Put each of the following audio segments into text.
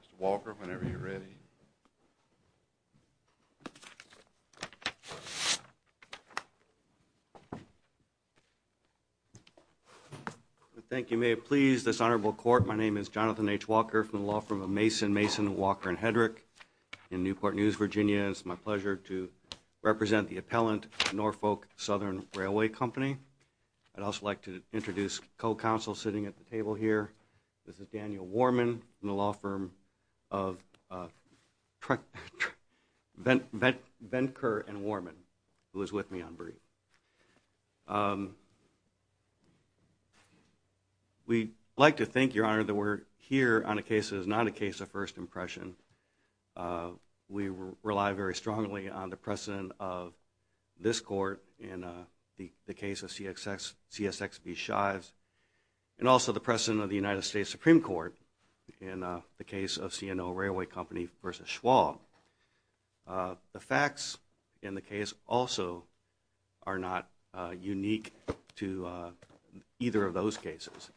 Mr. Walker, whenever you're ready. Thank you. May it please this honorable court. My name is Jonathan H. Walker from the law firm of Mason Mason, Walker & Hedrick in Newport News, Virginia. It's my pleasure to represent the appellant, Norfolk Southern Railway Company. I'd also like to introduce co-counsel sitting at the table here. This is Daniel Warman from the law firm of Ventker & Warman, who is with me on brief. We like to think, your honor, that we're here on a case that is not a case of first impression. We rely very strongly on the precedent of this court in the case of CSX v. Shives and also the precedent of the United States Supreme Court in the case of C&O Railway Company v. Schwab. The facts in the case also are not unique to either of those cases.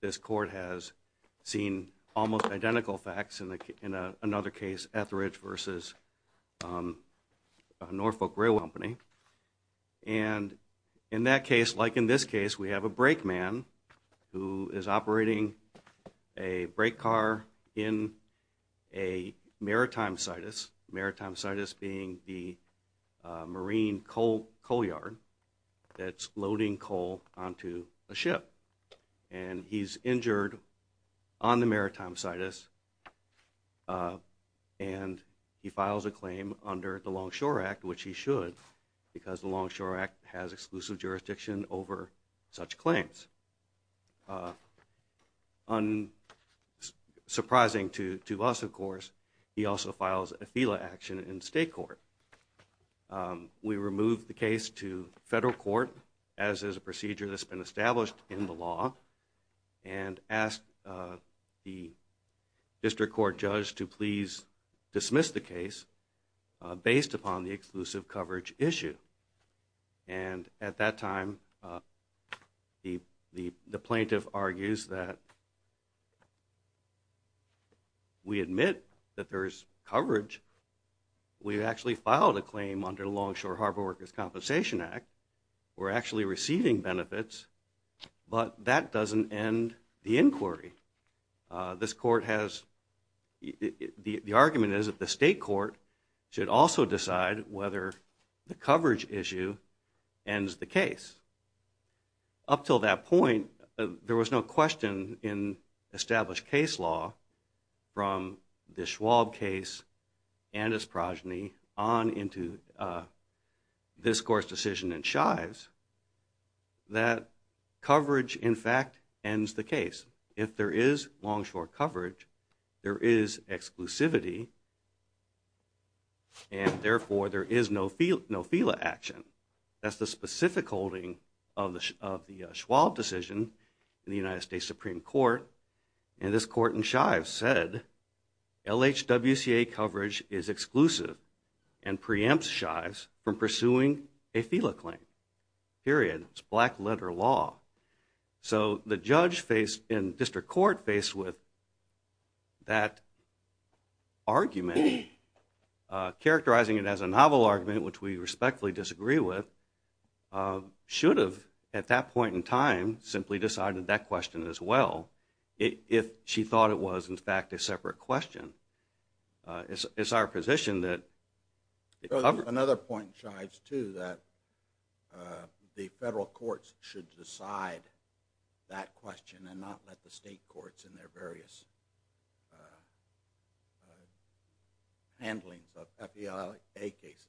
This court has seen almost identical facts in another case, Etheridge v. Norfolk Railway and in that case, like in this case, we have a brake man who is operating a brake car in a maritime situs, maritime situs being the marine coal yard that's loading coal onto a ship and he's injured on the maritime situs and he files a claim under the Longshore Act, which he should because the Longshore Act has exclusive jurisdiction over such claims. Unsurprising to us, of course, he also files a FELA action in state court. We remove the case to federal court, as is a procedure that's been established in the issue and at that time, the plaintiff argues that we admit that there's coverage. We've actually filed a claim under Longshore Harbor Workers' Compensation Act. We're actually receiving benefits, but that doesn't end the inquiry. This court has, the argument is that the state court should also decide whether the coverage issue ends the case. Up till that point, there was no question in established case law from the Schwab case and his progeny on into this court's decision in Shives that coverage, in fact, ends the case, there is Longshore coverage, there is exclusivity, and therefore, there is no FELA action. That's the specific holding of the Schwab decision in the United States Supreme Court and this court in Shives said, LHWCA coverage is exclusive and preempts Shives from pursuing a FELA claim, period, it's black letter law. So the judge faced, and district court faced with that argument, characterizing it as a novel argument, which we respectfully disagree with, should have, at that point in time, simply decided that question as well, if she thought it was, in fact, a separate question. It's our position that... Another point, Shives, too, that the federal courts should decide that question and not let the state courts in their various handlings of FELA cases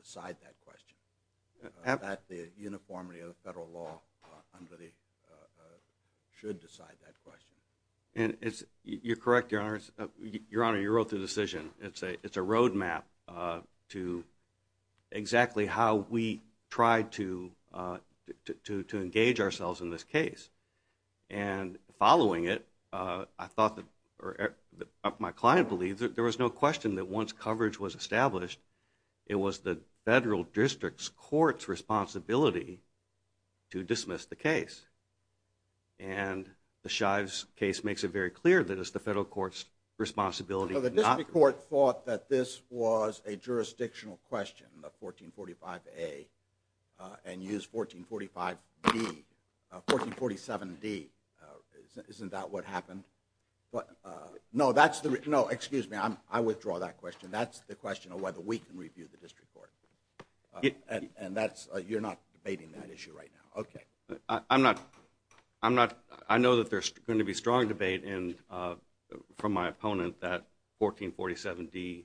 decide that question. That the uniformity of the federal law should decide that question. You're correct, Your Honor. Your Honor, you wrote the decision. It's a roadmap to exactly how we try to engage ourselves in this case. And following it, I thought that, or my client believes, that there was no question that once coverage was established, it was the federal district's court's responsibility to dismiss the case. And the Shives case makes it very clear that it's the federal court's responsibility to District court thought that this was a jurisdictional question, the 1445A, and used 1445D, 1447D. Isn't that what happened? No, that's the... No, excuse me. I withdraw that question. That's the question of whether we can review the district court. And that's... You're not debating that issue right now. Okay. I'm not... I know that there's going to be strong debate from my opponent that 1447D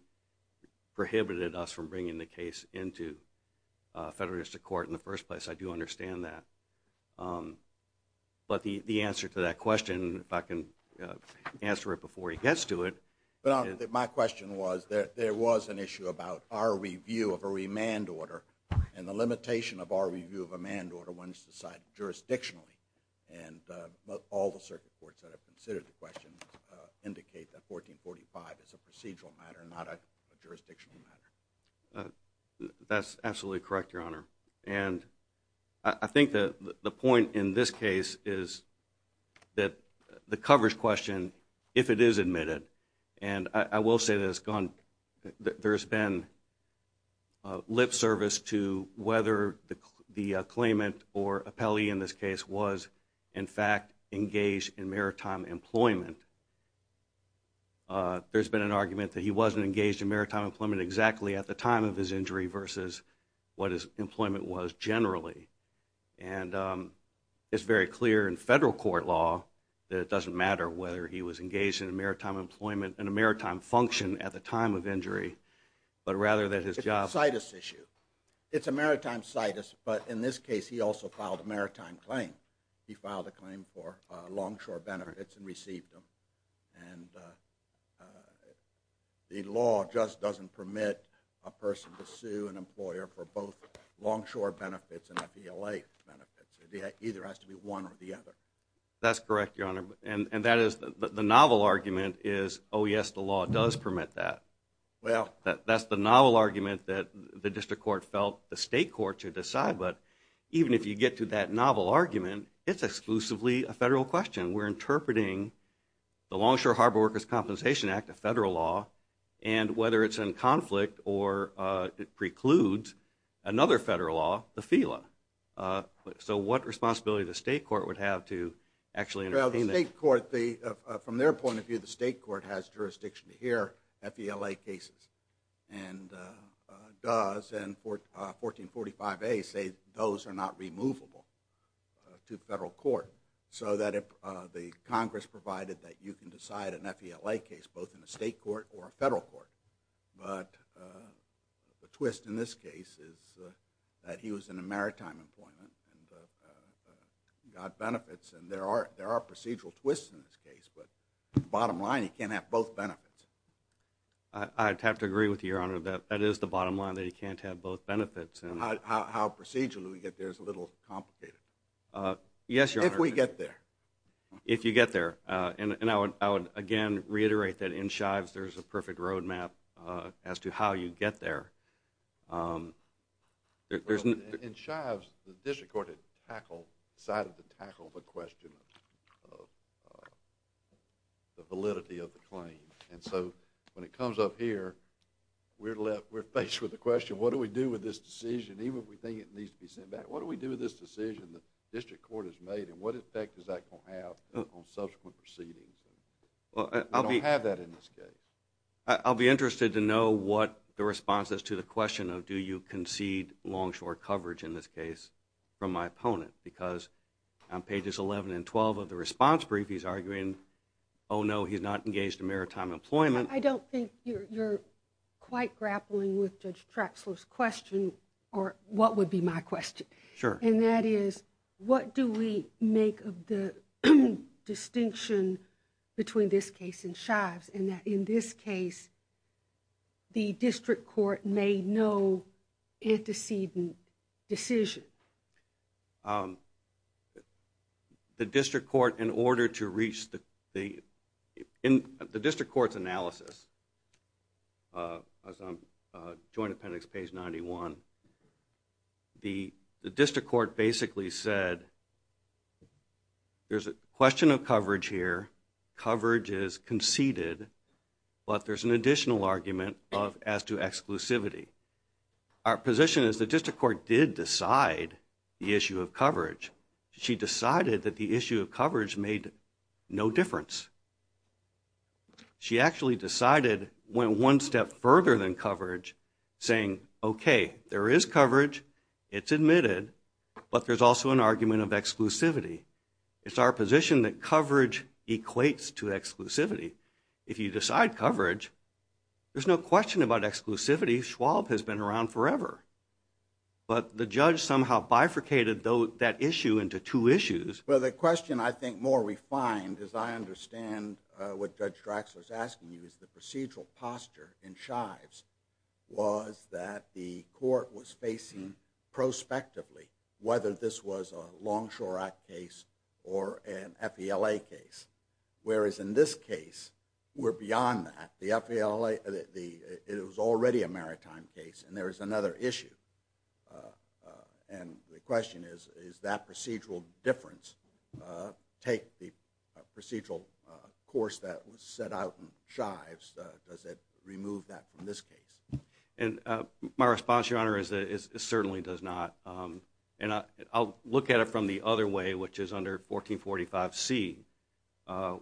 prohibited us from bringing the case into federal district court in the first place. I do understand that. But the answer to that question, if I can answer it before he gets to it... My question was, there was an issue about our review of a remand order and the limitation of our review of a manned order when it's decided jurisdictionally. And all the circuit courts that have considered the question indicate that 1445 is a procedural matter, not a jurisdictional matter. That's absolutely correct, Your Honor. And I think that the point in this case is that the coverage question, if it is admitted, and I will say that it's gone... There's been lip service to whether the claimant or appellee in this case was, in fact, engaged in maritime employment. There's been an argument that he wasn't engaged in maritime employment exactly at the time of his injury versus what his employment was generally. And it's very clear in federal court law that it doesn't matter whether he was engaged in maritime employment and a maritime function at the time of injury, but rather that his job... It's a situs issue. It's a maritime situs, but in this case, he also filed a maritime claim. He filed a claim for longshore benefits and received them. And the law just doesn't permit a person to sue an employer for both longshore benefits and FELA benefits. It either has to be one or the other. That's correct, Your Honor. And that is... The novel argument is, oh, yes, the law does permit that. That's the novel argument that the district court felt the state court should decide. But even if you get to that novel argument, it's exclusively a federal question. We're interpreting the Longshore Harbor Workers' Compensation Act, a federal law, and whether it's in conflict or it precludes another federal law, the FELA. So what responsibility the state court would have to actually entertain that? From their point of view, the state court has jurisdiction to hear FELA cases, and does. And 1445A say those are not removable to federal court. So that if the Congress provided that you can decide an FELA case, both in a state court or a federal court. But the twist in this case is that he was in a maritime employment and got benefits. And there are procedural twists in this case, but the bottom line, he can't have both benefits. I'd have to agree with you, Your Honor, that that is the bottom line, that he can't have both benefits. How procedurally we get there is a little complicated, if we get there. If you get there. And I would, again, reiterate that in Shives, there's a perfect roadmap as to how you get there. In Shives, the district court decided to tackle the question of the validity of the claim. And so when it comes up here, we're faced with the question, what do we do with this decision, even if we think it needs to be sent back? What do we do with this decision the district court has made, and what effect is that going to have on subsequent proceedings? We don't have that in this case. I'll be interested to know what the response is to the question of, do you concede long-short coverage, in this case, from my opponent? Because on pages 11 and 12 of the response brief, he's arguing, oh, no, he's not engaged in maritime employment. I don't think you're quite grappling with Judge Traxler's question, or what would be my question. Sure. And that is, what do we make of the distinction between this case and Shives, and that in this case, the district court made no antecedent decision? The district court, in order to reach the, in the district court's analysis, as on Joint appendix page 91, the district court basically said, there's a question of coverage here, coverage is conceded, but there's an additional argument as to exclusivity. Our position is the district court did decide the issue of coverage. She decided that the issue of coverage made no difference. She actually decided, went one step further than coverage, saying, okay, there is coverage, it's admitted, but there's also an argument of exclusivity. It's our position that coverage equates to exclusivity. If you decide coverage, there's no question about exclusivity. Schwab has been around forever. But the judge somehow bifurcated that issue into two issues. Well, the question I think more refined, as I understand what Judge Draxler's asking you, is the procedural posture in Shives was that the court was facing prospectively, whether this was a Longshore Act case or an FELA case. Whereas in this case, we're beyond that. The FELA, it was already a maritime case, and there was another issue. And the question is, is that procedural difference take the procedural course that was set out in Shives? Does it remove that from this case? And my response, Your Honor, is it certainly does not. And I'll look at it from the other way, which is under 1445C,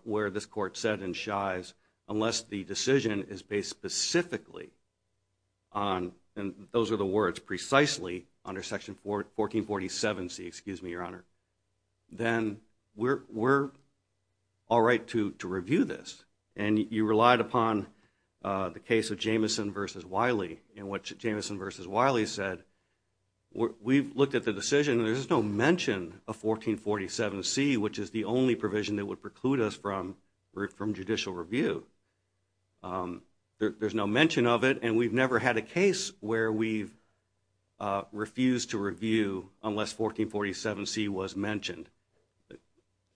where this court said in Shives, unless the decision is based specifically on, and those are the words, precisely under Section 1447C, excuse me, Your Honor, then we're all right to review this. And you relied upon the case of Jamison v. Wiley in which Jamison v. Wiley said, we've looked at the decision and there's no mention of 1447C, which is the only provision that would preclude us from judicial review. There's no mention of it, and we've never had a case where we've refused to review unless 1447C was mentioned. The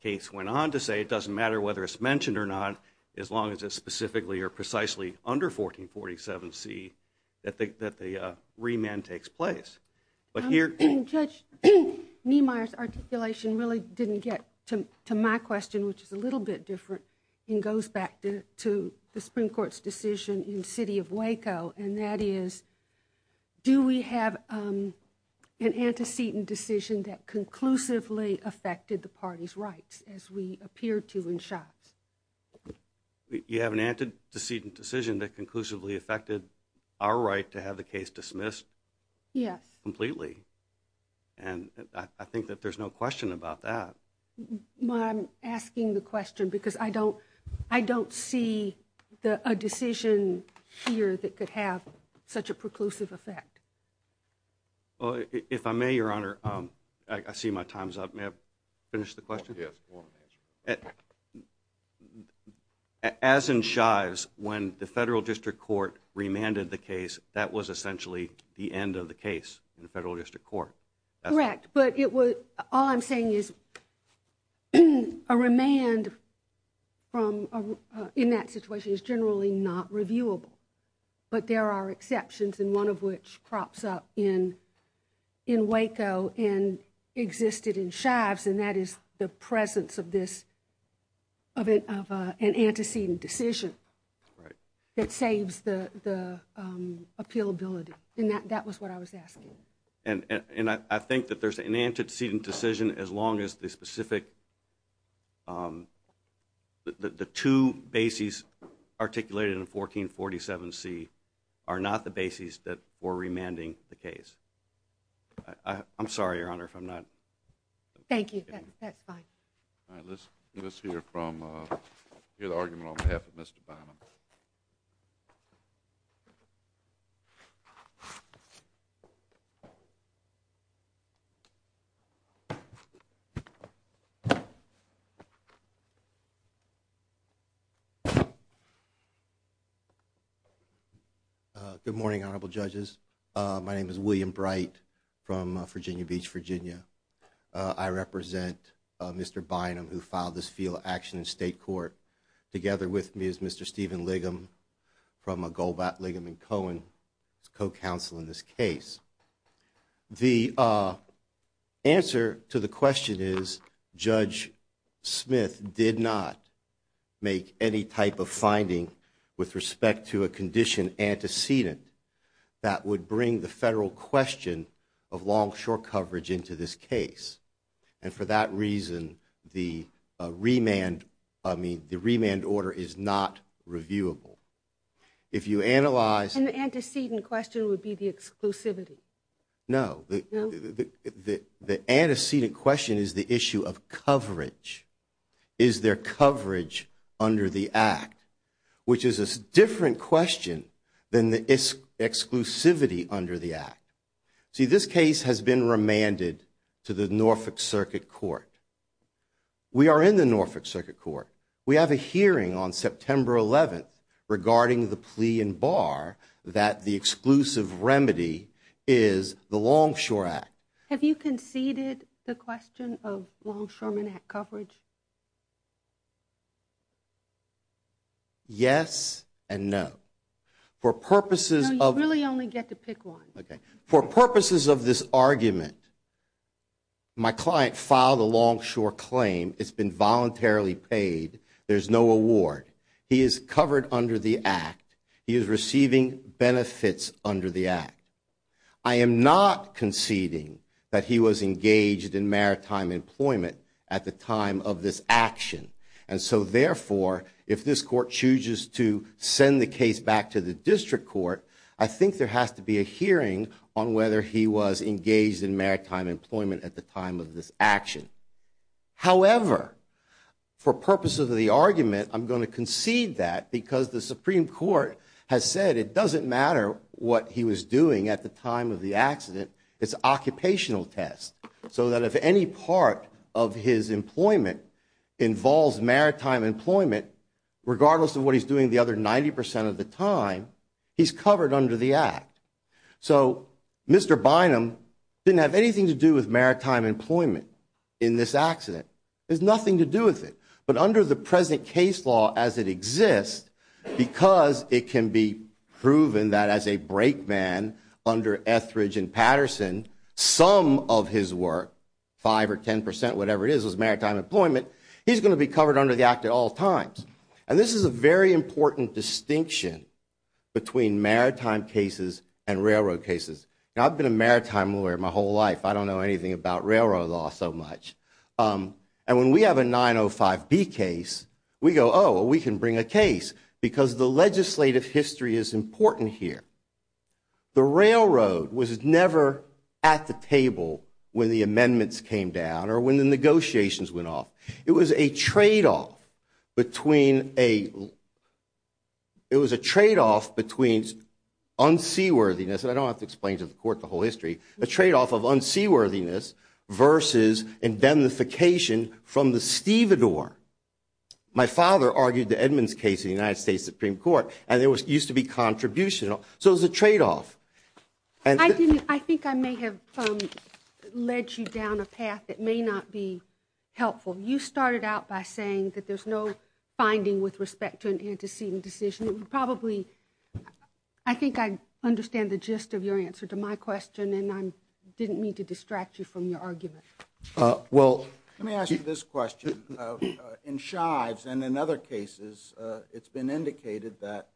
case went on to say it doesn't matter whether it's mentioned or not, as long as it's specifically or precisely under 1447C that the remand takes place. Judge Niemeyer's articulation really didn't get to my question, which is a little bit different, and goes back to the Supreme Court's decision in the city of Waco, and that is, do we have an antecedent decision that conclusively affected the party's rights as we appear to in Shives? You have an antecedent decision that conclusively affected our right to have the case dismissed? Yes. Completely. And I think that there's no question about that. Well, I'm asking the question because I don't see a decision here that could have such a preclusive effect. If I may, Your Honor, I see my time's up. May I finish the question? Yes. As in Shives, when the Federal District Court remanded the case, that was essentially the end of the case in the Federal District Court. Correct, but all I'm saying is a remand in that situation is generally not reviewable, but there are exceptions, and one of which crops up in Waco and existed in Shives, and that is the presence of an antecedent decision that saves the appealability. And that was what I was asking. And I think that there's an antecedent decision as long as the two bases articulated in 1447C are not the bases that were remanding the case. I'm sorry, Your Honor, if I'm not… Thank you. That's fine. All right, let's hear the argument on behalf of Mr. Bonham. Good morning, Honorable Judges. My name is William Bright from Virginia Beach, Virginia. I represent Mr. Bonham who filed this field action in State Court. Together with me is Mr. Stephen Liggum from Golbat, Liggum & Cohen, co-counsel in this case. The answer to the question is Judge Smith did not make any type of finding with respect to a condition antecedent that would bring the federal question of longshore coverage into this case. And for that reason, the remand order is not reviewable. If you analyze… And the antecedent question would be the exclusivity. No. No? The antecedent question is the issue of coverage. Is there coverage under the Act? Which is a different question than the exclusivity under the Act. See, this case has been remanded to the Norfolk Circuit Court. We are in the Norfolk Circuit Court. We have a hearing on September 11th regarding the plea in bar that the exclusive remedy is the Longshore Act. Have you conceded the question of longshoreman Act coverage? Yes and no. For purposes of… No, you really only get to pick one. Okay. For purposes of this argument, my client filed a longshore claim. It's been voluntarily paid. There's no award. He is covered under the Act. He is receiving benefits under the Act. I am not conceding that he was engaged in maritime employment at the time of this action. And so, therefore, if this Court chooses to send the case back to the District Court, I think there has to be a hearing on whether he was engaged in maritime employment at the time of this action. However, for purposes of the argument, I'm going to concede that because the Supreme Court has said it doesn't matter what he was doing at the time of the accident. It's an occupational test. So that if any part of his employment involves maritime employment, regardless of what he's doing the other 90% of the time, he's covered under the Act. So Mr. Bynum didn't have anything to do with maritime employment in this accident. There's nothing to do with it. But under the present case law as it exists, because it can be proven that as a brake man under Etheridge and Patterson, some of his work, 5% or 10%, whatever it is, was maritime employment, he's going to be covered under the Act at all times. And this is a very important distinction between maritime cases and railroad cases. Now, I've been a maritime lawyer my whole life. I don't know anything about railroad law so much. And when we have a 905B case, we go, oh, we can bring a case because the legislative history is important here. The railroad was never at the table when the amendments came down or when the negotiations went off. It was a tradeoff between unseaworthiness, and I don't have to explain to the court the whole history, a tradeoff of unseaworthiness versus indemnification from the stevedore. My father argued the Edmonds case in the United States Supreme Court, and there used to be contribution. So it was a tradeoff. I think I may have led you down a path that may not be helpful. You started out by saying that there's no finding with respect to an antecedent decision. I think I understand the gist of your answer to my question, and I didn't mean to distract you from your argument. Well, let me ask you this question. In Shives and in other cases, it's been indicated that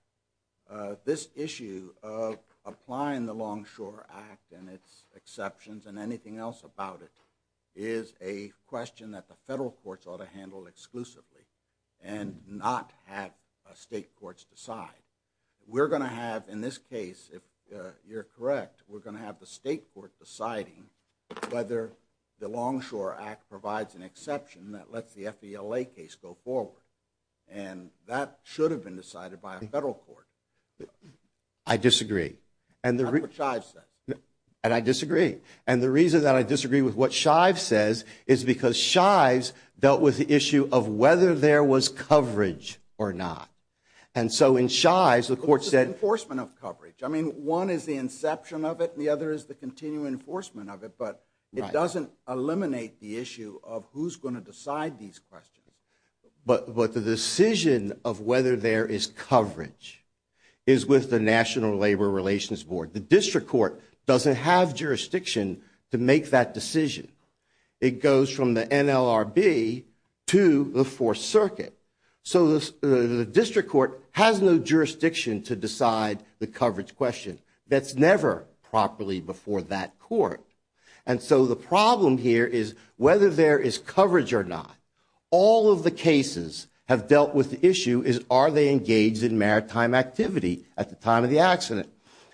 this issue of applying the Longshore Act and its exceptions and anything else about it is a question that the federal courts ought to handle exclusively and not have state courts decide. We're going to have, in this case, if you're correct, we're going to have the state court deciding whether the Longshore Act provides an exception that lets the FDLA case go forward, and that should have been decided by a federal court. I disagree. That's what Shives said. And I disagree. And the reason that I disagree with what Shives says is because Shives dealt with the issue of whether there was coverage or not. And so in Shives, the court said – It's an enforcement of coverage. I mean, one is the inception of it, and the other is the continuing enforcement of it, but it doesn't eliminate the issue of who's going to decide these questions. But the decision of whether there is coverage is with the National Labor Relations Board. The district court doesn't have jurisdiction to make that decision. It goes from the NLRB to the Fourth Circuit. So the district court has no jurisdiction to decide the coverage question. That's never properly before that court. And so the problem here is whether there is coverage or not. All of the cases have dealt with the issue is are they engaged in maritime activity at the time of the accident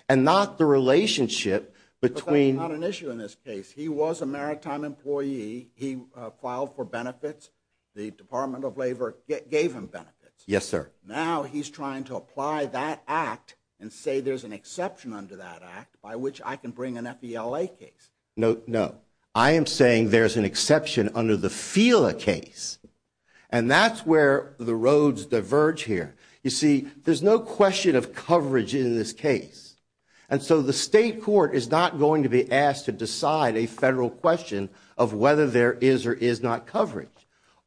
and not the relationship between – But that's not an issue in this case. He was a maritime employee. He filed for benefits. The Department of Labor gave him benefits. Yes, sir. Now he's trying to apply that act and say there's an exception under that act by which I can bring an FELA case. No, no. I am saying there's an exception under the FELA case. And that's where the roads diverge here. You see, there's no question of coverage in this case. And so the state court is not going to be asked to decide a federal question of whether there is or is not coverage.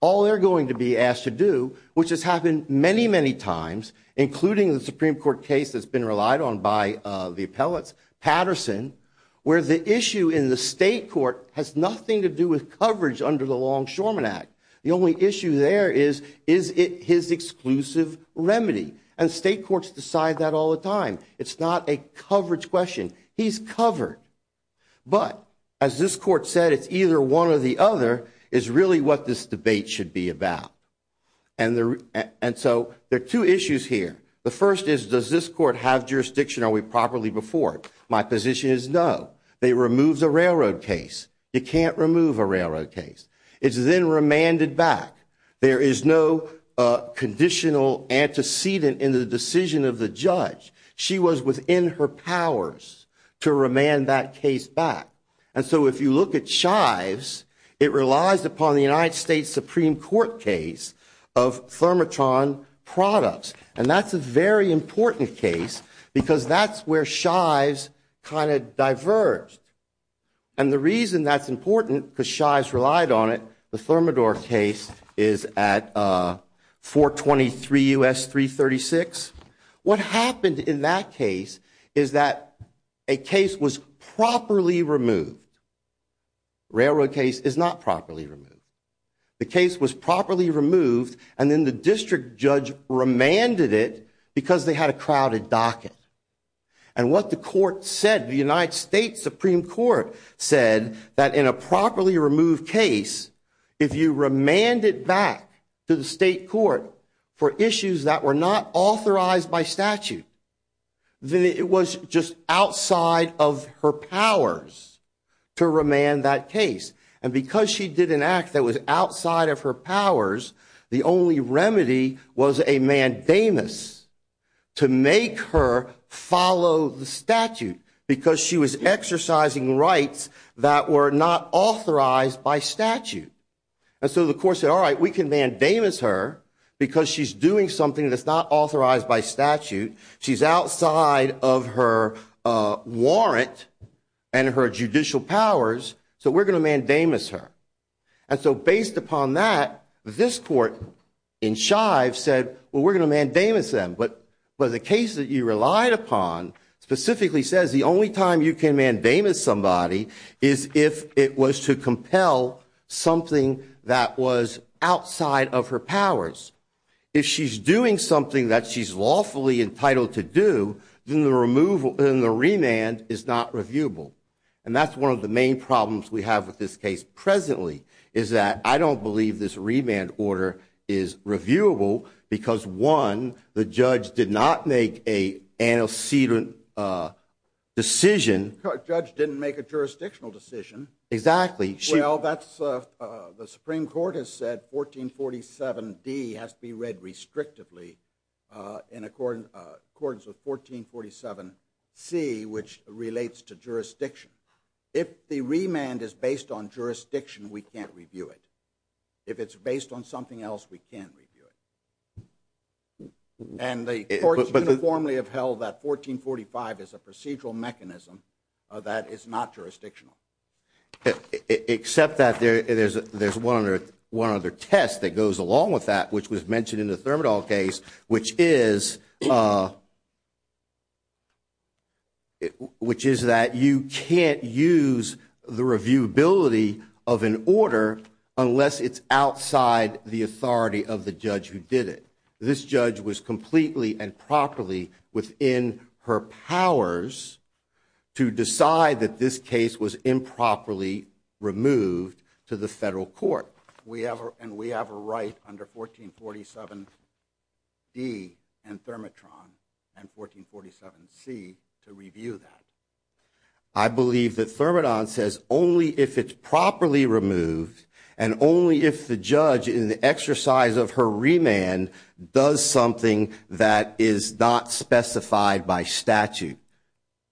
All they're going to be asked to do, which has happened many, many times, including the Supreme Court case that's been relied on by the appellates, Patterson, where the issue in the state court has nothing to do with coverage under the Longshoremen Act. The only issue there is, is it his exclusive remedy? And state courts decide that all the time. It's not a coverage question. He's covered. But as this court said, it's either one or the other is really what this debate should be about. And so there are two issues here. The first is, does this court have jurisdiction? Are we properly before it? My position is no. It removes a railroad case. You can't remove a railroad case. It's then remanded back. There is no conditional antecedent in the decision of the judge. She was within her powers to remand that case back. And so if you look at Shives, it relies upon the United States Supreme Court case of Thermotron products. And that's a very important case because that's where Shives kind of diverged. And the reason that's important because Shives relied on it, the Thermador case is at 423 U.S. 336. What happened in that case is that a case was properly removed. Railroad case is not properly removed. The case was properly removed, and then the district judge remanded it because they had a crowded docket. And what the court said, the United States Supreme Court said, that in a properly removed case, if you remand it back to the state court for issues that were not authorized by statute, then it was just outside of her powers to remand that case. And because she did an act that was outside of her powers, the only remedy was a mandamus to make her follow the statute because she was exercising rights that were not authorized by statute. And so the court said, all right, we can mandamus her because she's doing something that's not authorized by statute. She's outside of her warrant and her judicial powers, so we're going to mandamus her. And so based upon that, this court in Shive said, well, we're going to mandamus them. But the case that you relied upon specifically says the only time you can mandamus somebody is if it was to compel something that was outside of her powers. If she's doing something that she's lawfully entitled to do, then the remand is not reviewable. And that's one of the main problems we have with this case presently, is that I don't believe this remand order is reviewable because, one, the judge did not make an antecedent decision. The judge didn't make a jurisdictional decision. Exactly. Well, the Supreme Court has said 1447D has to be read restrictively in accordance with 1447C, which relates to jurisdiction. If the remand is based on jurisdiction, we can't review it. If it's based on something else, we can't review it. And the courts uniformly have held that 1445 is a procedural mechanism that is not jurisdictional. Except that there's one other test that goes along with that, which was mentioned in the Thermidor case, which is that you can't use the reviewability of an order unless it's outside the authority of the judge who did it. This judge was completely and properly within her powers to decide that this case was improperly removed to the federal court. And we have a right under 1447D and Thermitron and 1447C to review that. I believe that Thermidon says only if it's properly removed and only if the judge, in the exercise of her remand, does something that is not specified by statute,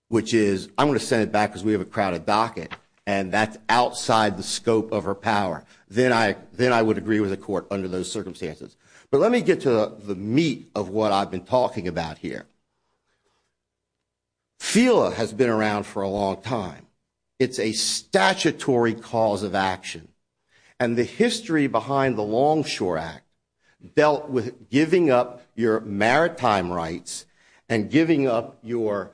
which is I'm going to send it back because we have a crowded docket, and that's outside the scope of her power, then I would agree with the court under those circumstances. But let me get to the meat of what I've been talking about here. FELA has been around for a long time. It's a statutory cause of action. And the history behind the Longshore Act dealt with giving up your maritime rights and giving up your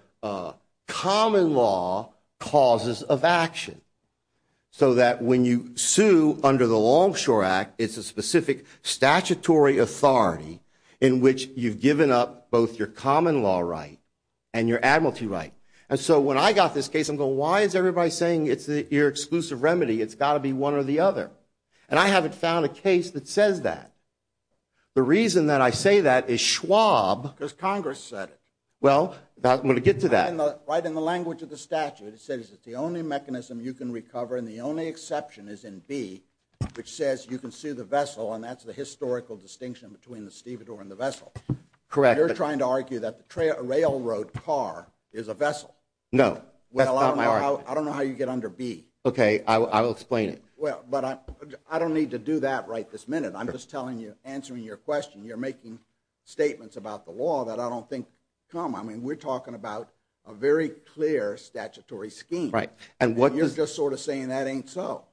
common law causes of action so that when you sue under the Longshore Act, it's a specific statutory authority in which you've given up both your common law right and your admiralty right. And so when I got this case, I'm going, why is everybody saying it's your exclusive remedy? It's got to be one or the other. And I haven't found a case that says that. The reason that I say that is Schwab. Because Congress said it. Well, I'm going to get to that. Right in the language of the statute, it says it's the only mechanism you can recover, and the only exception is in B, which says you can sue the vessel, and that's the historical distinction between the stevedore and the vessel. Correct. You're trying to argue that the railroad car is a vessel. No. Well, I don't know how you get under B. Okay, I will explain it. But I don't need to do that right this minute. I'm just telling you, answering your question. You're making statements about the law that I don't think come. I mean, we're talking about a very clear statutory scheme. Right. And you're just sort of saying that ain't so.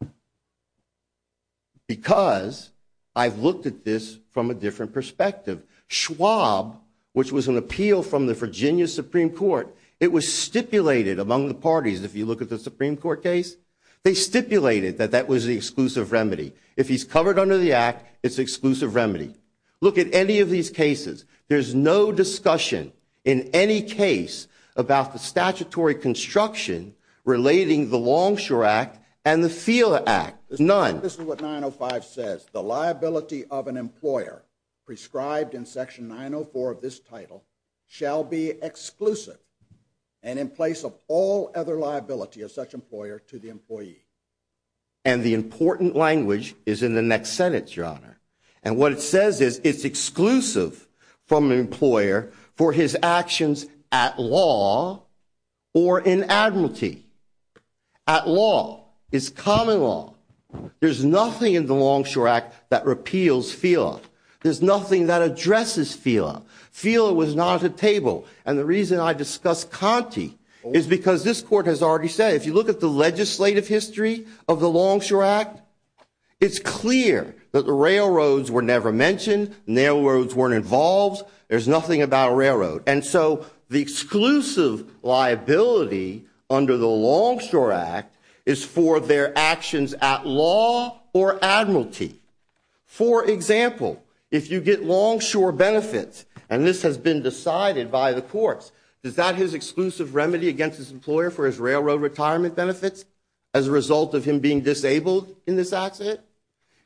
Because I've looked at this from a different perspective. Schwab, which was an appeal from the Virginia Supreme Court, it was stipulated among the parties, if you look at the Supreme Court case, they stipulated that that was the exclusive remedy. If he's covered under the act, it's exclusive remedy. Look at any of these cases. There's no discussion in any case about the statutory construction relating the Longshore Act and the FILA Act. None. This is what 905 says. The liability of an employer prescribed in Section 904 of this title shall be exclusive and in place of all other liability of such employer to the employee. And the important language is in the next sentence, Your Honor. And what it says is it's exclusive from an employer for his actions at law or in admiralty. At law is common law. There's nothing in the Longshore Act that repeals FILA. There's nothing that addresses FILA. FILA was not at the table. And the reason I discuss Conte is because this court has already said, if you look at the legislative history of the Longshore Act, it's clear that the railroads were never mentioned, the railroads weren't involved. There's nothing about a railroad. And so the exclusive liability under the Longshore Act is for their actions at law or admiralty. For example, if you get longshore benefits, and this has been decided by the courts, is that his exclusive remedy against his employer for his railroad retirement benefits as a result of him being disabled in this accident?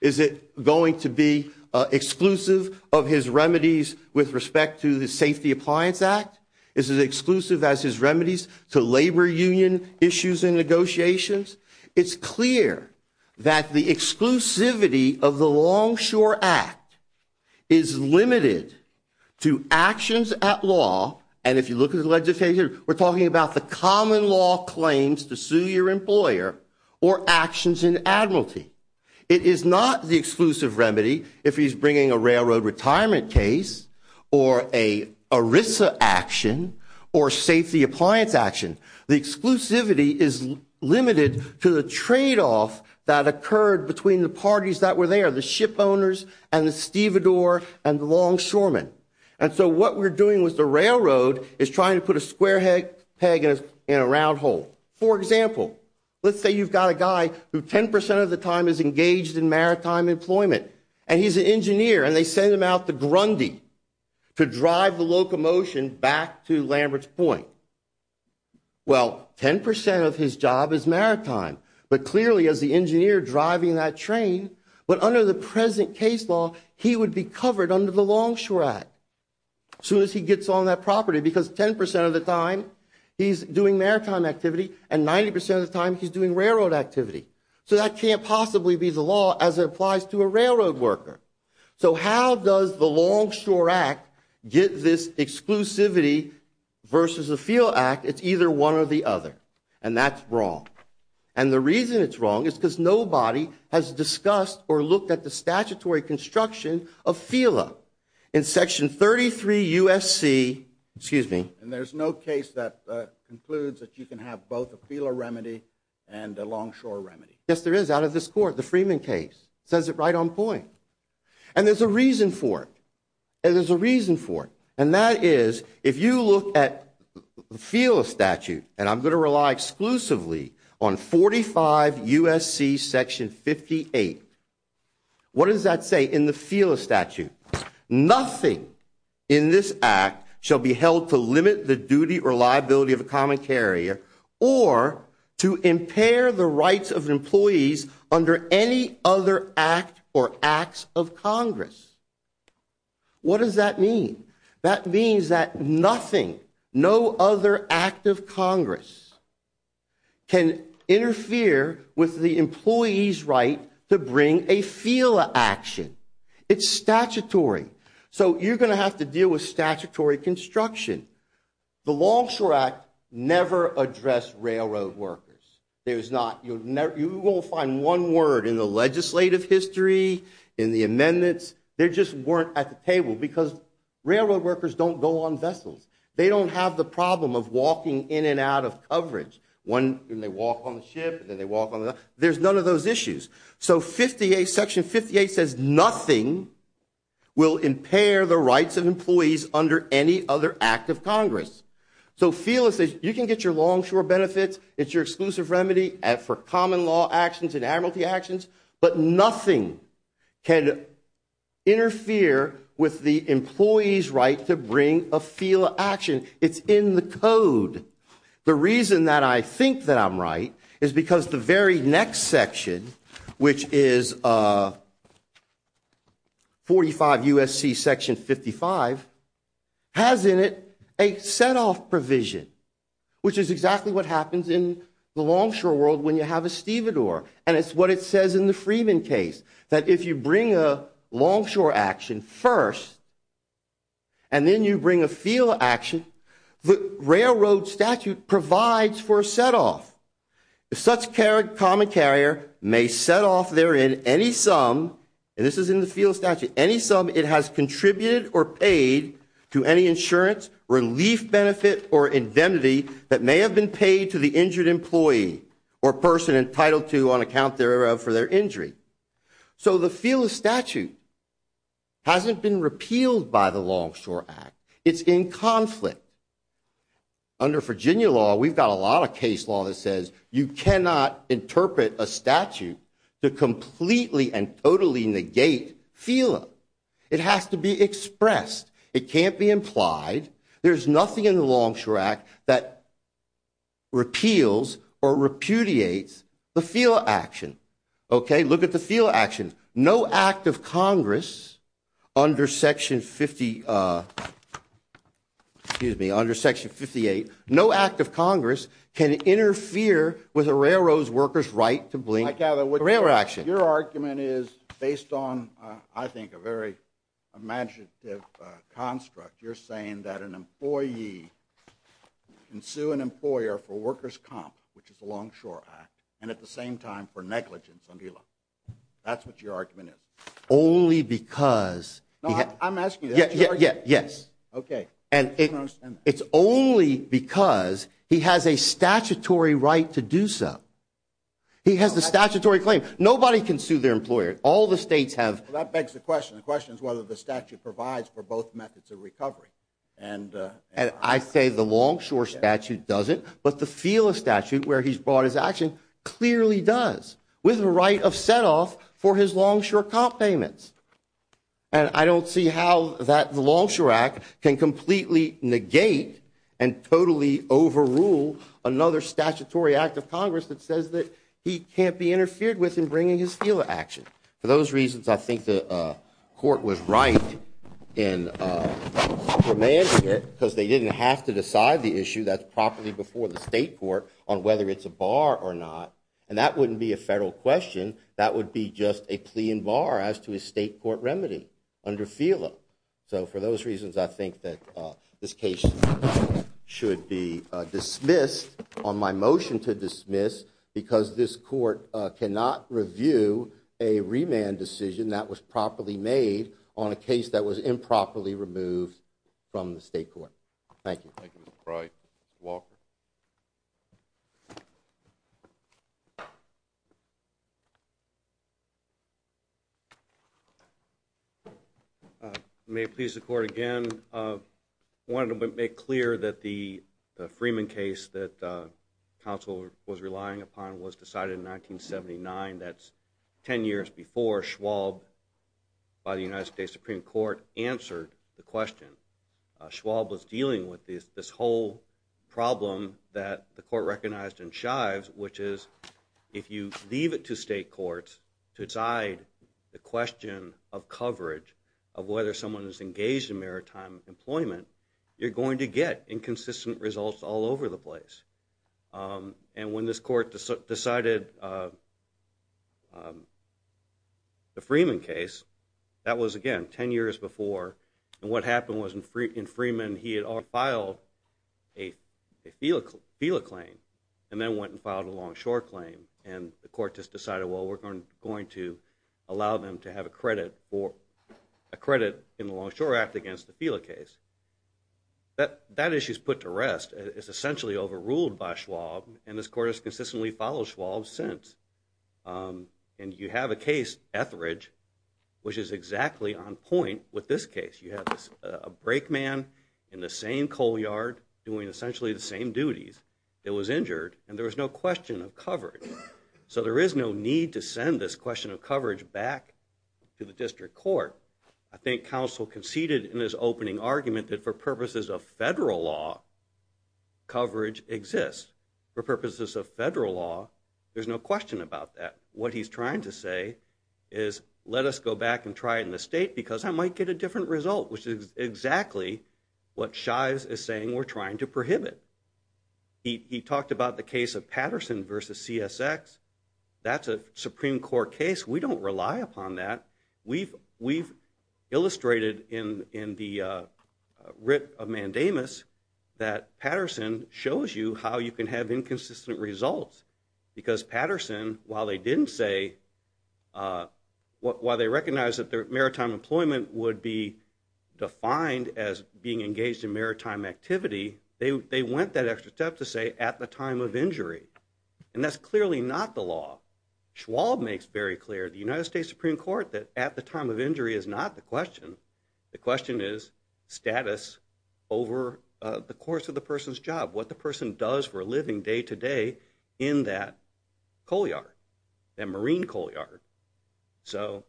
Is it going to be exclusive of his remedies with respect to the Safety Appliance Act? Is it exclusive as his remedies to labor union issues and negotiations? It's clear that the exclusivity of the Longshore Act is limited to actions at law. And if you look at the legislature, we're talking about the common law claims to sue your employer or actions in admiralty. It is not the exclusive remedy if he's bringing a railroad retirement case or a ERISA action or Safety Appliance action. The exclusivity is limited to the tradeoff that occurred between the parties that were there, the ship owners and the stevedore and the longshoremen. And so what we're doing with the railroad is trying to put a square peg in a round hole. For example, let's say you've got a guy who 10% of the time is engaged in maritime employment, and he's an engineer, and they send him out to Grundy to drive the locomotion back to Lambert's Point. Well, 10% of his job is maritime. But clearly, as the engineer driving that train, but under the present case law, he would be covered under the Longshore Act as soon as he gets on that property because 10% of the time he's doing maritime activity, and 90% of the time he's doing railroad activity. So that can't possibly be the law as it applies to a railroad worker. So how does the Longshore Act get this exclusivity versus the FEAL Act? It's either one or the other, and that's wrong. And the reason it's wrong is because nobody has discussed or looked at the statutory construction of FEALA in Section 33 U.S.C. And there's no case that concludes that you can have both a FEALA remedy and a longshore remedy. Yes, there is, out of this court, the Freeman case. It says it right on point. And there's a reason for it. And there's a reason for it, and that is if you look at the FEALA statute, and I'm going to rely exclusively on 45 U.S.C. Section 58, what does that say in the FEALA statute? Nothing in this act shall be held to limit the duty or liability of a common carrier or to impair the rights of employees under any other act or acts of Congress. What does that mean? That means that nothing, no other act of Congress can interfere with the employee's right to bring a FEALA action. It's statutory. So you're going to have to deal with statutory construction. The Longshore Act never addressed railroad workers. There's not. You won't find one word in the legislative history, in the amendments. They just weren't at the table because railroad workers don't go on vessels. They don't have the problem of walking in and out of coverage when they walk on the ship and then they walk on the other. There's none of those issues. So Section 58 says nothing will impair the rights of employees under any other act of Congress. So FEALA says you can get your longshore benefits. It's your exclusive remedy for common law actions and amnesty actions, but nothing can interfere with the employee's right to bring a FEALA action. It's in the code. The reason that I think that I'm right is because the very next section, which is 45 U.S.C. Section 55, has in it a set-off provision, which is exactly what happens in the longshore world when you have a That's in the Freeman case, that if you bring a longshore action first and then you bring a FEALA action, the railroad statute provides for a set-off. Such common carrier may set off therein any sum, and this is in the FEALA statute, any sum it has contributed or paid to any insurance, relief benefit, or indemnity that may have been paid to the injured employee or person entitled to on account for their injury. So the FEALA statute hasn't been repealed by the Longshore Act. It's in conflict. Under Virginia law, we've got a lot of case law that says you cannot interpret a statute to completely and totally negate FEALA. It has to be expressed. It can't be implied. There's nothing in the Longshore Act that repeals or repudiates the FEALA action. Okay? Look at the FEALA action. No act of Congress under Section 50, excuse me, under Section 58, no act of Congress can interfere with a railroad worker's right to blink a railroad action. Your argument is based on, I think, a very imaginative construct. You're saying that an employee can sue an employer for workers' comp, which is the Longshore Act, and at the same time for negligence on FEALA. That's what your argument is. Only because he has to. No, I'm asking you. Yes. Okay. It's only because he has a statutory right to do so. He has the statutory claim. Nobody can sue their employer. All the states have. Well, that begs the question. The question is whether the statute provides for both methods of recovery. And I say the Longshore statute doesn't, but the FEALA statute where he's brought his action clearly does, with a right of setoff for his Longshore comp payments. And I don't see how the Longshore Act can completely negate and totally overrule another statutory act of Congress that says that he can't be interfered with in bringing his FEALA action. For those reasons, I think the court was right in demanding it because they didn't have to decide the issue that's properly before the state court on whether it's a bar or not. And that wouldn't be a federal question. That would be just a plea in bar as to a state court remedy under FEALA. So for those reasons, I think that this case should be dismissed, on my motion to dismiss, because this court cannot review a remand decision that was properly made on a case that was improperly removed from the state court. Thank you. Thank you, Mr. Frye. Mr. Walker. May it please the court again, I wanted to make clear that the Freeman case that counsel was relying upon was decided in 1979. That's 10 years before Schwab, by the United States Supreme Court, answered the question. Schwab was dealing with this whole problem that the court recognized in Shives, which is if you leave it to state courts to decide the question of coverage, of whether someone is engaged in maritime employment, you're going to get inconsistent results all over the place. And when this court decided the Freeman case, that was, again, 10 years before. And what happened was in Freeman he had already filed a FEALA claim and then went and filed a Longshore claim. And the court just decided, well, we're going to allow them to have a credit in the Longshore Act against the FEALA case. That issue is put to rest, it's essentially overruled by Schwab, and this court has consistently followed Schwab since. And you have a case, Etheridge, which is exactly on point with this case. You have a brake man in the same coal yard doing essentially the same duties that was injured, and there was no question of coverage. So there is no need to send this question of coverage back to the district court. I think counsel conceded in his opening argument that for purposes of federal law, coverage exists. For purposes of federal law, there's no question about that. What he's trying to say is let us go back and try it in the state because I might get a different result, which is exactly what Shives is saying we're trying to prohibit. He talked about the case of Patterson versus CSX. That's a Supreme Court case. We don't rely upon that. We've illustrated in the writ of Mandamus that Patterson shows you how you can have inconsistent results because Patterson, while they didn't say, while they recognized that maritime employment would be defined as being engaged in maritime activity, they went that extra step to say at the time of injury. And that's clearly not the law. Schwab makes very clear, the United States Supreme Court, that at the time of injury is not the question. The question is status over the course of the person's job, what the person does for a living day to day in that coal yard, that marine coal yard. So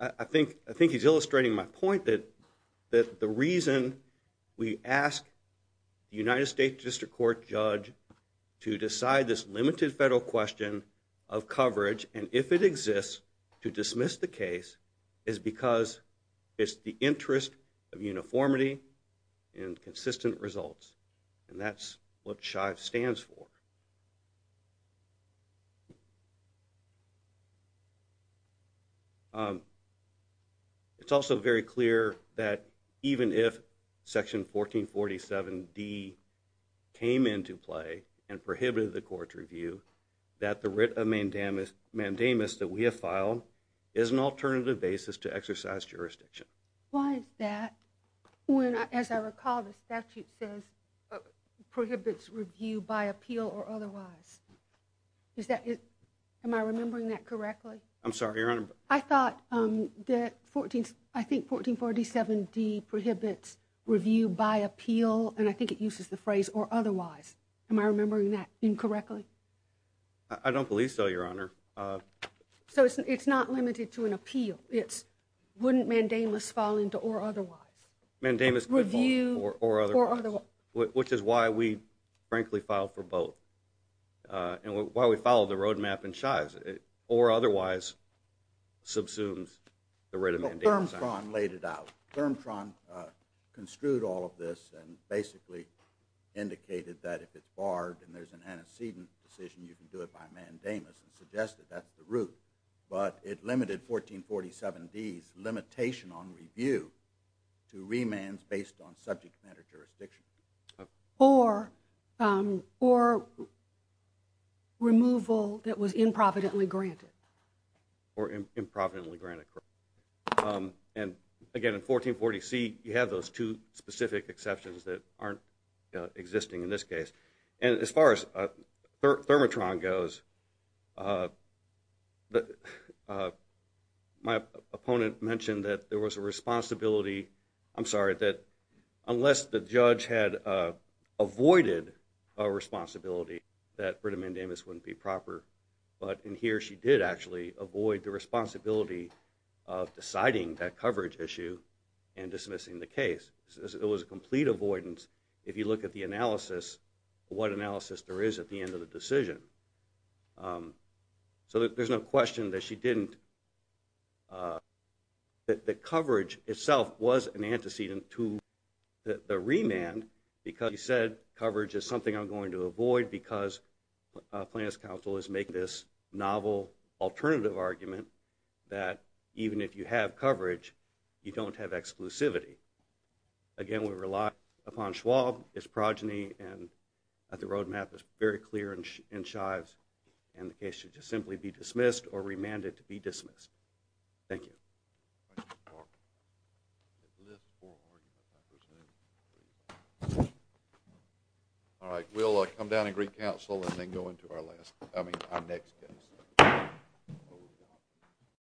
I think he's illustrating my point that the reason we ask the United States District Court judge to decide this limited federal question of coverage, and if it exists, to dismiss the case, is because it's the interest of uniformity and consistent results. And that's what SHIVES stands for. It's also very clear that even if Section 1447D came into play and prohibited the court's review, that the writ of Mandamus that we have filed is an alternative basis to exercise jurisdiction. Why is that? When, as I recall, the statute says prohibits review by appeal or otherwise. Am I remembering that correctly? I'm sorry, Your Honor. I thought that 1447D prohibits review by appeal, and I think it uses the phrase or otherwise. Am I remembering that incorrectly? I don't believe so, Your Honor. So it's not limited to an appeal. Wouldn't Mandamus fall into or otherwise? Mandamus could fall into or otherwise, which is why we, frankly, filed for both and why we followed the roadmap in SHIVES. Or otherwise subsumes the writ of Mandamus. Well, Germtron laid it out. Germtron construed all of this and basically indicated that if it's barred and there's an antecedent decision, you can do it by Mandamus and suggested that's the route. But it limited 1447D's limitation on review to remands based on subject matter jurisdiction. Or removal that was improvidently granted. Or improvidently granted, correct. And, again, in 1440C you have those two specific exceptions that aren't existing in this case. And as far as Germtron goes, my opponent mentioned that there was a responsibility, I'm sorry, that unless the judge had avoided a responsibility that writ of Mandamus wouldn't be proper. But in here she did actually avoid the responsibility of deciding that coverage issue and dismissing the case. It was a complete avoidance. If you look at the analysis, what analysis there is at the end of the decision. So there's no question that she didn't. The coverage itself was an antecedent to the remand because she said coverage is something I'm going to avoid because plaintiff's counsel is making this novel alternative argument that even if you have coverage, you don't have exclusivity. Again, we rely upon Schwab, his progeny, and the road map is very clear in Shives. And the case should just simply be dismissed or remanded to be dismissed. Thank you. Thank you, Mark. All right. We'll come down and greet counsel and then go into our next case.